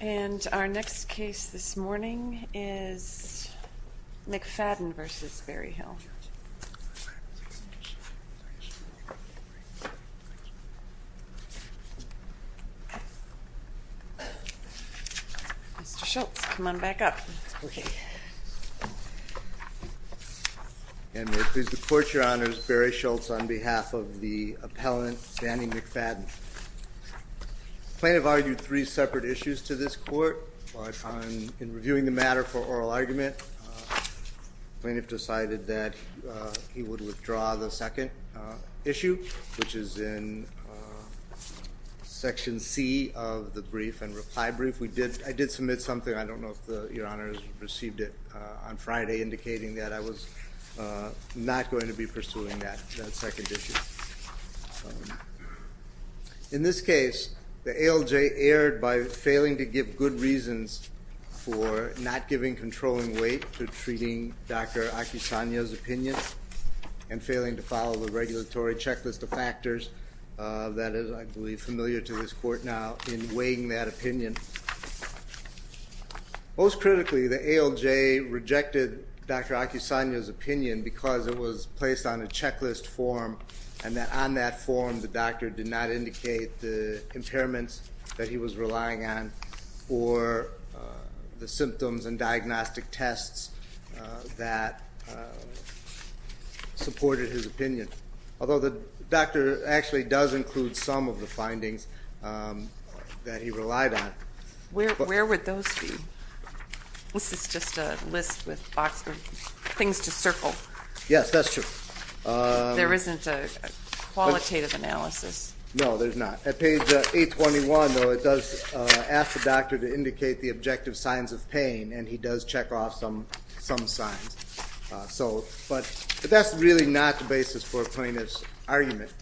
And our next case this morning is McFadden v. Berryhill. Mr. Schultz, come on back up. And may it please the court, your honors, Barry Schultz on behalf of the appellant Danny McFadden. The plaintiff argued three separate issues to this court, but in reviewing the matter for oral argument, the plaintiff decided that he would withdraw the second issue, which is in section C of the brief and reply brief. If we did, I did submit something, I don't know if your honors received it on Friday indicating that I was not going to be pursuing that second issue. In this case, the ALJ erred by failing to give good reasons for not giving controlling weight to treating Dr. Acasano's opinion and failing to follow the regulatory checklist of factors that is, I believe, familiar to this court now in weighing that opinion. Most critically, the ALJ rejected Dr. Acasano's opinion because it was placed on a checklist form and that on that form the doctor did not indicate the impairments that he was relying on or the symptoms and diagnostic tests that supported his opinion. Although the doctor actually does include some of the findings that he relied on. Where would those be? This is just a list with things to circle. Yes, that's true. There isn't a qualitative analysis. No, there's not. At page 821, though, it does ask the doctor to indicate the objective signs of pain and he does check off some signs. But that's really not the basis for a plaintiff's argument.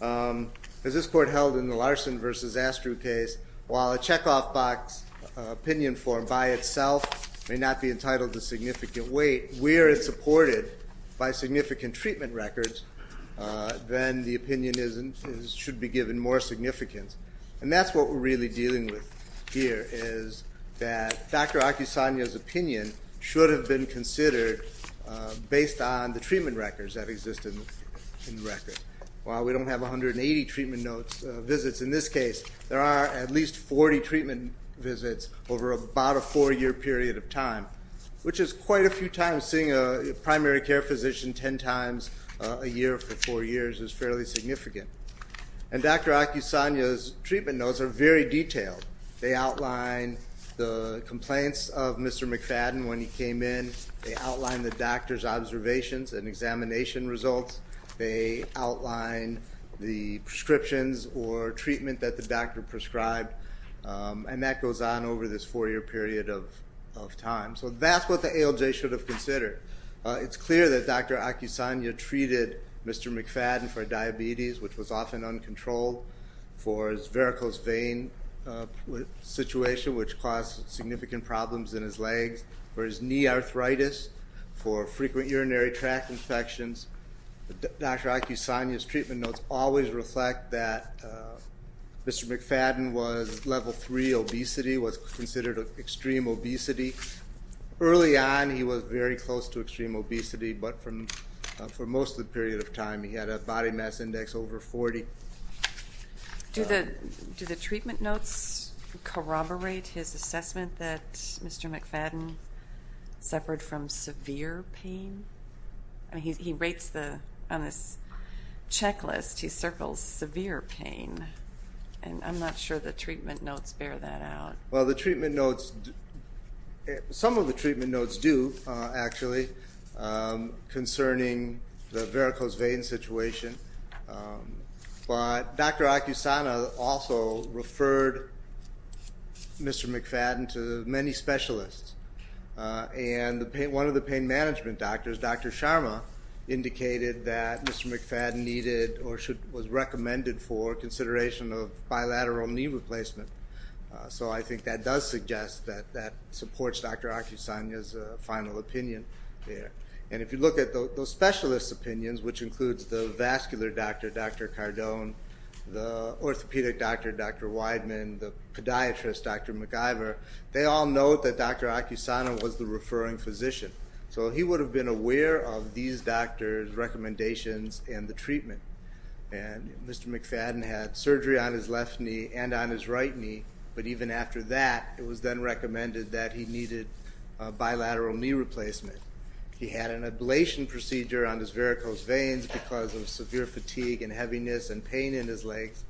As this court held in the Larson v. Astru case, while a check off box opinion form by itself may not be entitled to significant weight, where it's supported by significant treatment records, then the opinion should be given more significance. And that's what we're really dealing with here is that Dr. Acasano's opinion should have been considered based on the treatment records that exist in the record. While we don't have 180 treatment visits in this case, there are at least 40 treatment visits over about a four-year period of time, which is quite a few times seeing a primary care physician 10 times a year for four years is fairly significant. And Dr. Acasano's treatment notes are very detailed. They outline the complaints of Mr. McFadden when he came in. They outline the doctor's observations and examination results. They outline the prescriptions or treatment that the doctor prescribed. And that goes on over this four-year period of time. So that's what the ALJ should have considered. It's clear that Dr. Acasano treated Mr. McFadden for diabetes, which was often uncontrolled, for his varicose vein situation, which caused significant problems in his legs, for his knee arthritis, for frequent urinary tract infections. Dr. Acasano's treatment notes always reflect that Mr. McFadden was level 3 obesity, was considered extreme obesity. Early on, he was very close to extreme obesity, but for most of the period of time, he had a body mass index over 40. Do the treatment notes corroborate his assessment that Mr. McFadden suffered from severe pain? He rates the, on this checklist, he circles severe pain, and I'm not sure the treatment notes bear that out. Well the treatment notes, some of the treatment notes do, actually, concerning the varicose vein situation. But Dr. Acasano also referred Mr. McFadden to many specialists, and one of the pain management doctors, Dr. Sharma, indicated that Mr. McFadden needed, or was recommended for, consideration of bilateral knee replacement. So I think that does suggest that that supports Dr. Acasano's final opinion there. And if you look at those specialist opinions, which includes the vascular doctor, Dr. Cardone, the orthopedic doctor, Dr. Wideman, the podiatrist, Dr. McIvor, they all note that Dr. Acasano was the referring physician. So he would have been aware of these doctors' recommendations and the treatment. And Mr. McFadden had surgery on his left knee and on his right knee, but even after that, it was then recommended that he needed bilateral knee replacement. He had an ablation procedure on his varicose veins because of severe fatigue and heaviness and pain in his legs.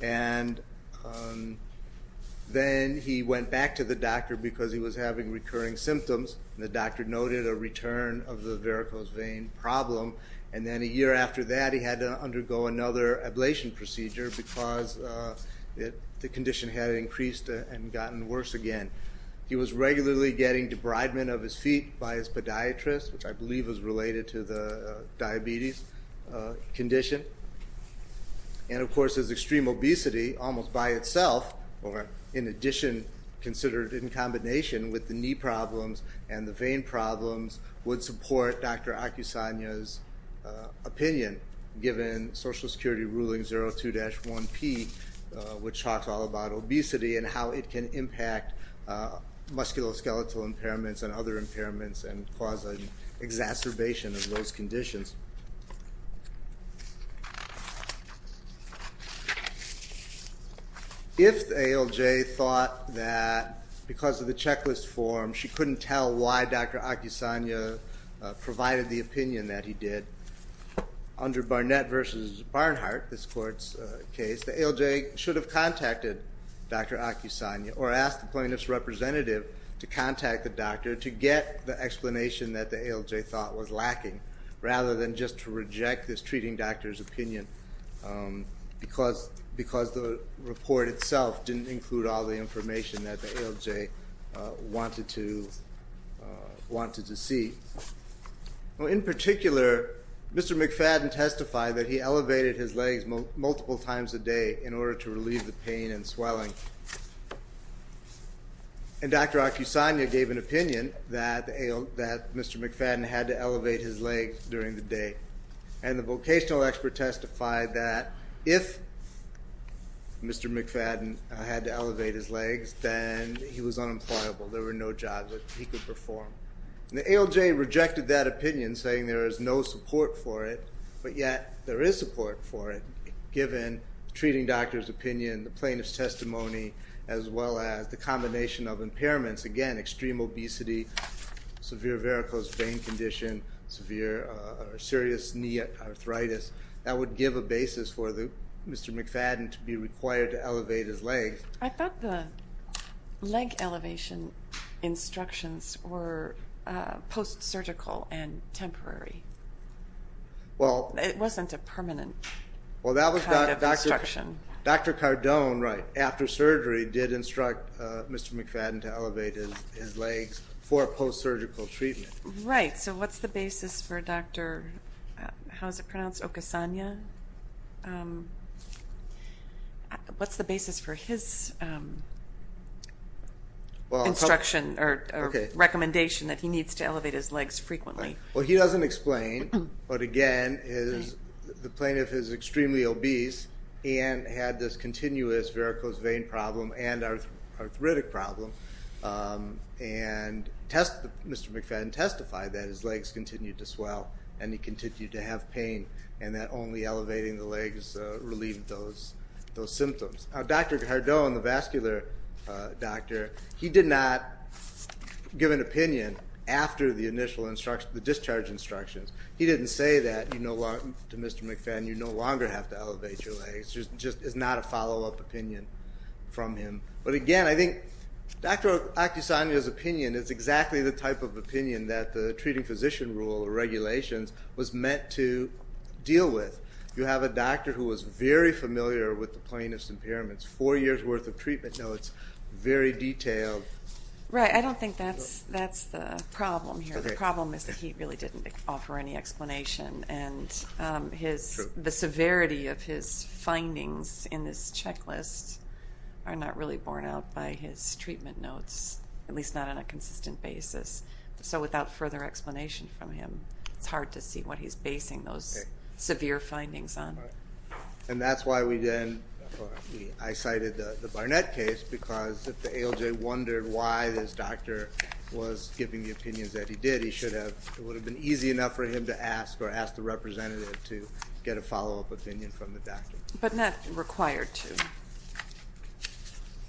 And then he went back to the doctor because he was having recurring symptoms. The doctor noted a return of the varicose vein problem. And then a year after that, he had to undergo another ablation procedure because the condition had increased and gotten worse again. He was regularly getting debridement of his feet by his podiatrist, which I believe is related to the diabetes condition. And of course, his extreme obesity almost by itself, or in addition considered in combination with the knee problems and the vein problems, would support Dr. Acasano's opinion given Social Security Ruling 02-1P, which talks all about obesity and how it can impact musculoskeletal impairments and other impairments and cause exacerbation of those conditions. If ALJ thought that because of the checklist form, she couldn't tell why Dr. Acasano provided the opinion that he did, under Barnett v. Barnhart, this court's case, the ALJ should have contacted Dr. Acasano or asked the plaintiff's representative to contact the doctor to get the explanation that the ALJ thought was lacking rather than just to reject this treating doctor's opinion because the report itself didn't include all the information that the ALJ wanted to see. In particular, Mr. McFadden testified that he elevated his legs multiple times a day in order to relieve the pain and swelling. And Dr. Acasano gave an opinion that Mr. McFadden had to elevate his legs during the day. And the vocational expert testified that if Mr. McFadden had to elevate his legs, then he was unemployable. There were no jobs that he could perform. The ALJ rejected that opinion, saying there is no support for it. But yet, there is support for it, given the treating doctor's opinion, the plaintiff's testimony, as well as the combination of impairments. Again, extreme obesity, severe varicose vein condition, severe serious knee arthritis. That would give a basis for Mr. McFadden to be required to elevate his legs. I thought the leg elevation instructions were post-surgical and temporary. It wasn't a permanent kind of instruction. Dr. Cardone, right, after surgery, did instruct Mr. McFadden to elevate his legs for post-surgical treatment. Right. So what's the basis for Dr. Acasano? What's the basis for his treatment? What's his instruction or recommendation that he needs to elevate his legs frequently? Well, he doesn't explain. But again, the plaintiff is extremely obese and had this continuous varicose vein problem and arthritic problem. And Mr. McFadden testified that his legs continued to swell and he continued to have pain, and that only elevating the legs relieved those symptoms. Now, Dr. Cardone, the vascular doctor, he did not give an opinion after the initial instruction, the discharge instructions. He didn't say that to Mr. McFadden, you no longer have to elevate your legs. It's just not a follow-up opinion from him. But again, I think Dr. Acasano's opinion is exactly the type of opinion that the treating physician rule or regulations was meant to deal with. You have a doctor who was very concerned about his impairments. Four years' worth of treatment notes, very detailed. Right. I don't think that's the problem here. The problem is that he really didn't offer any explanation. And the severity of his findings in this checklist are not really borne out by his treatment notes, at least not on a consistent basis. So without further explanation from him, it's hard to see what he's basing those severe findings on. And that's why I cited the Barnett case, because if the ALJ wondered why this doctor was giving the opinions that he did, it would have been easy enough for him to ask or ask the representative to get a follow-up opinion from the doctor. But not required to.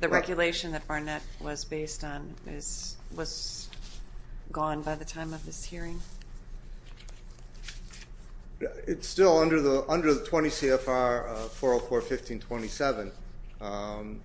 The regulation that Barnett was based on was gone by the time of this hearing? It's still under the 20 CFR 404.15.27.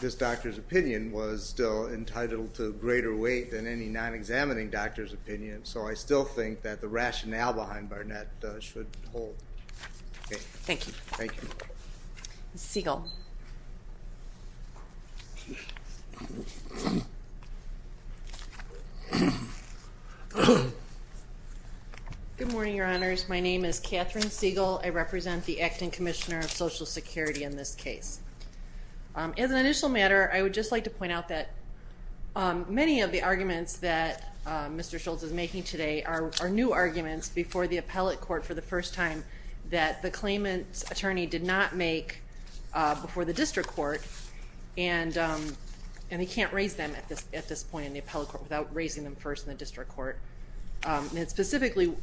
This doctor's opinion was still entitled to greater weight than any non-examining doctor's opinion, so I still think that the rationale behind Barnett should hold. Thank you. Thank you. Ms. Siegel. Good morning, Your Honors. My name is Catherine Siegel. I represent the Acting Commissioner of Social Security in this case. As an initial matter, I would just like to point out that many of the arguments that Mr. Schultz is making today are new arguments before the appellate court for the first time that the claimant's attorney did not make before the district court, and he can't raise them at this point in the appellate court without raising them first in the district court. And it's specifically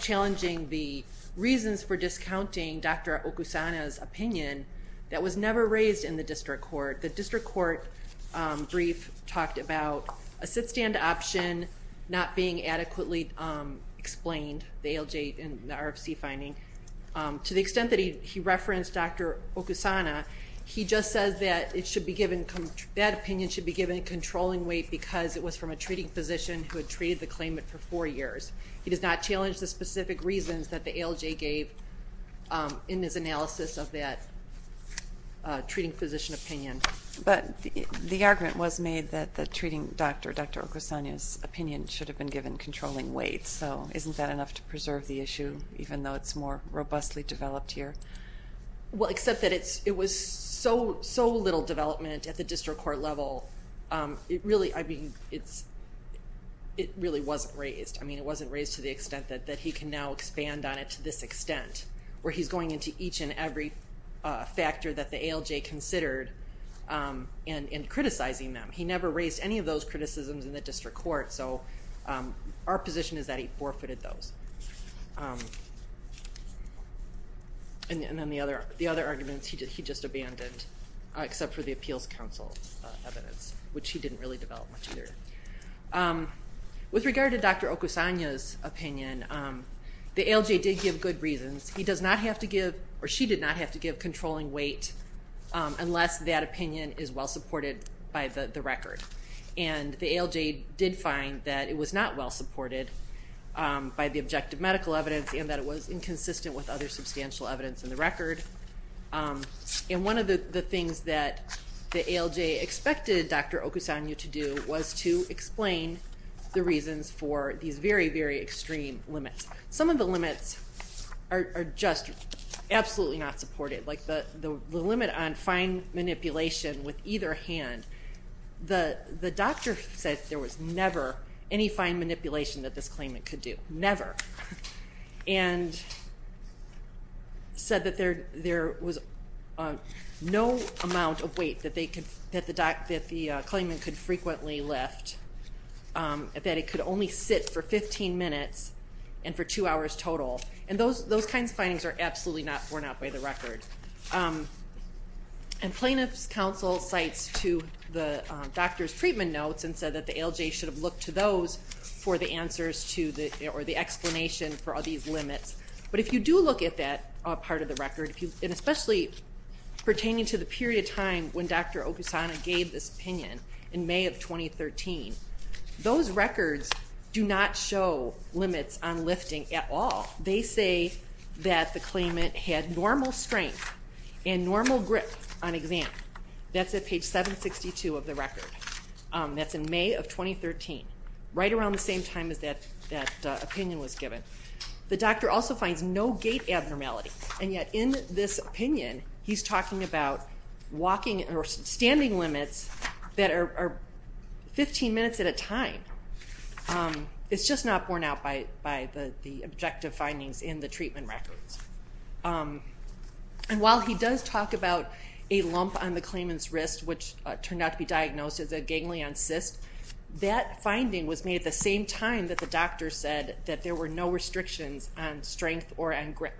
challenging the reasons for discounting Dr. Okusana's opinion that was never raised in the district court. The district court brief talked about a sit-stand option not being adequately explained, the ALJ and the RFC finding. To the extent that he referenced Dr. Okusana, he just says that it should be given, that opinion should be given controlling weight because it was from a treating physician who had treated the claimant for four years. He does not challenge the specific reasons that the ALJ gave in his analysis of that treating physician opinion. But the argument was made that the treating doctor, Dr. Okusana's opinion should have been given controlling weight, so isn't that enough to preserve the issue even though it's more robustly developed here? Well, except that it was so little development at the district court level, it really wasn't raised. I mean, it wasn't raised to the extent that he can now expand on it to this extent where he's going into each and every factor that the ALJ considered and criticizing them. He never raised any of those criticisms in the district court, so our position is that he forfeited those. And then the other arguments he just abandoned, except for the appeals council evidence, which he didn't really develop much either. With regard to Dr. Okusana's opinion, the ALJ did give good reasons. He does not have to give, or she did not have to give, controlling weight unless that opinion is well-supported by the record. And the ALJ did find that it was not well-supported by the objective medical evidence and that it was inconsistent with other substantial evidence in the record. And one of the things that the ALJ expected Dr. Okusana to do was to explain the reasons for these very, very extreme limits. Some of the limits are just absolutely not supported, like the limit on fine manipulation with either hand. The doctor said there was never any limit, said that there was no amount of weight that the claimant could frequently lift, that it could only sit for 15 minutes and for two hours total. And those kinds of findings are absolutely not borne out by the record. And plaintiff's counsel cites to the doctor's treatment notes and said that the ALJ should have looked to those for the answers or the But if you do look at that part of the record, and especially pertaining to the period of time when Dr. Okusana gave this opinion in May of 2013, those records do not show limits on lifting at all. They say that the claimant had normal strength and normal grip on exam. That's at page 762 of the record. That's in May of 2013, right around the same time as that opinion was given. The doctor also finds no gait abnormality, and yet in this opinion he's talking about standing limits that are 15 minutes at a time. It's just not borne out by the objective findings in the treatment records. And while he does talk about a lump on the claimant's wrist, which turned out to be diagnosed as a ganglion cyst, that finding was made at the same time that the doctor said that there were no restrictions on strength or on grip.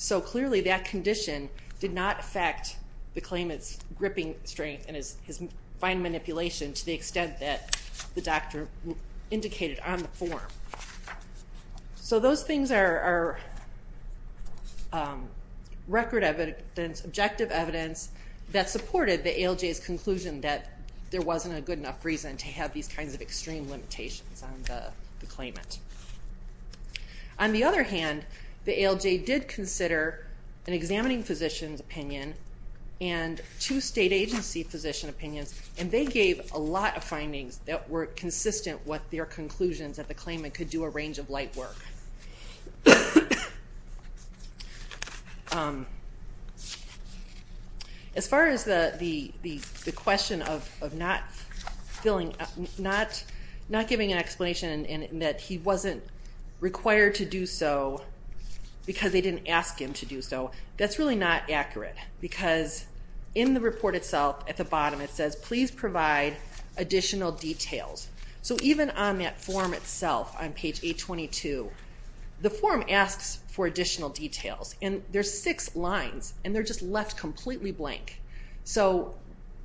So clearly that condition did not affect the claimant's gripping strength and his fine manipulation to the extent that the doctor indicated on the form. So those things are record evidence, objective evidence, that supported the ALJ's conclusion that there wasn't a good enough reason to have these kinds of extreme limitations on the claimant. On the other hand, the ALJ did consider an examining physician's opinion and two state agency physician opinions, and they gave a lot of findings that were consistent with their conclusions that the claimant could do a range of light work. As far as the question of not giving an explanation and that he wasn't required to do so because they didn't ask him to do so, that's really not accurate because in the report itself at the bottom it says, please provide additional details. So even on that form itself on page 822, the form asks for additional details, and there's six lines, and they're just left completely blank. So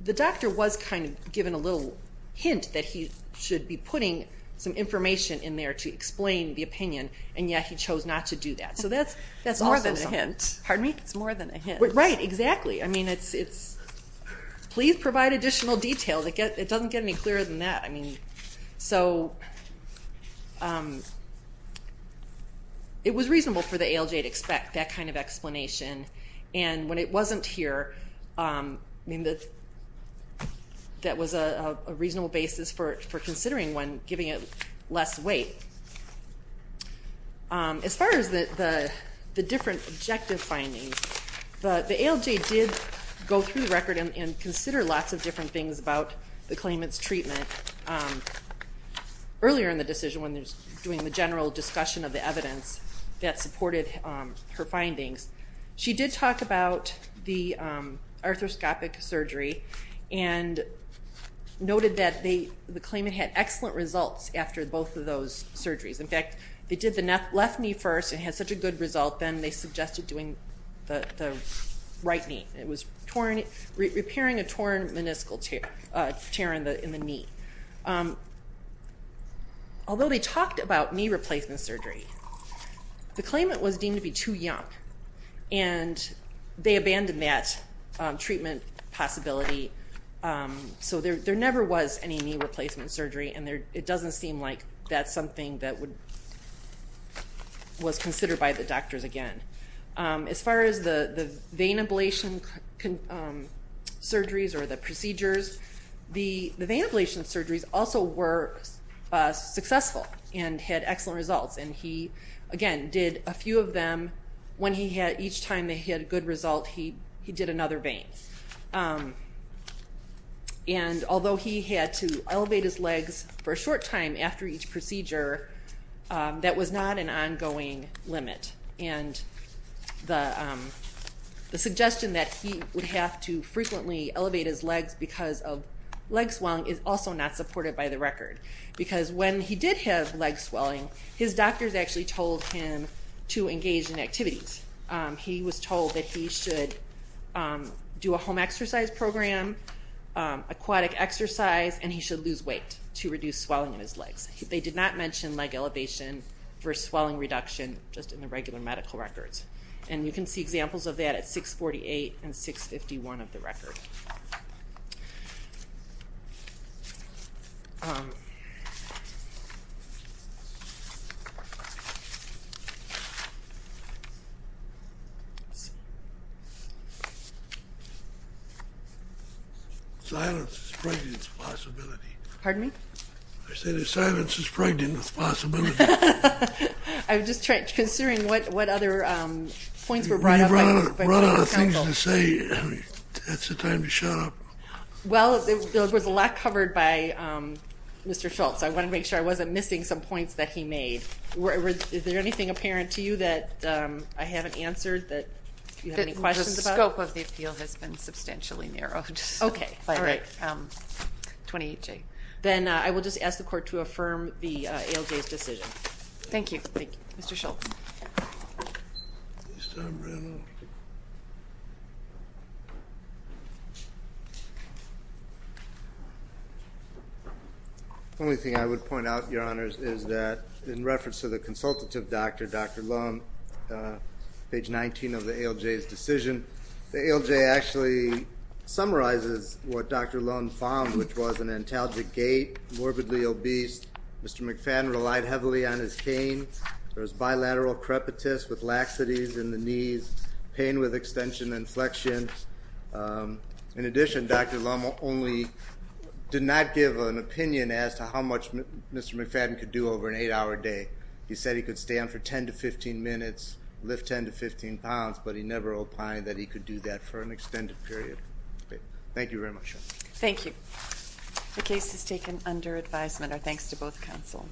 the doctor was kind of given a little hint that he should be putting some information in there to explain the opinion, and yet he chose not to do that. So that's more than a hint. Pardon me? It's more than a hint. Right, exactly. I mean, it's please provide additional details. It doesn't get any clearer than that. I mean, so it was reasonable for the ALJ to expect that kind of explanation, and when it wasn't here, I mean, that was a reasonable basis for considering one, giving it less weight. As far as the different objective findings, the ALJ did go through the record and consider lots of different things about the claimant's treatment. Earlier in the decision, when they were doing the general discussion of the evidence that supported her findings, she did talk about the arthroscopic surgery and noted that the claimant had excellent results after both of those surgeries. In fact, they did the left knee first and had such a good result then they suggested doing the right knee. It was repairing a torn meniscal tear in the knee. Although they talked about knee replacement surgery, the claimant was deemed to be too young and they abandoned that treatment possibility. So there never was any knee replacement surgery and it doesn't seem like that's something that was considered by the doctors again. As far as the vein ablation surgeries or the procedures, the vein ablation surgeries also were successful and had excellent results. And he, again, did a few of them when he had each time that he had a good result, he did another vein. And although he had to elevate his legs for a short time after each procedure, that was not an ongoing limit. And the suggestion that he would have to frequently elevate his legs because of leg swelling is also not supported by the record. Because when he did have leg swelling, his doctors actually told him to engage in activities. He was told that he should do a home exercise program, aquatic exercise, and he should lose weight to reduce swelling in his legs. They did not mention leg elevation for swelling reduction just in the regular medical records. And you can see examples of that at 648 and 651 of the record. Silence. Great. Thank you. Pardon me? I said if silence is pregnant, it's a possibility. I was just considering what other points were brought up. You brought up things to say. That's the time to shut up. Well, there was a lot covered by Mr. Schultz. I wanted to make sure I wasn't missing some points that he made. Is there anything apparent to you that I haven't answered that you have any questions about? The scope of the appeal has been substantially narrowed. Okay. All right. 28J. Then I will just ask the court to affirm the ALJ's decision. Thank you. Thank you. Mr. Schultz. The only thing I would point out, Your Honors, is that in reference to the consultative doctor, Dr. Lum, page 19 of the ALJ's decision, the ALJ actually summarizes what Dr. Lum found, which was an antalgic gait, morbidly obese, Mr. McFadden relied heavily on his cane, there was bilateral crepitus with laxities in the knees, pain with extension and flexion. In addition, Dr. Lum only did not give an opinion as to how much Mr. McFadden could do over an eight-hour day. He said he could stand for 10 to 15 minutes, lift 10 to 15 pounds, but he never opined that he could do that for an extended period. Thank you very much, Your Honor. Thank you. The case is taken under advisement. Our thanks to both counsel.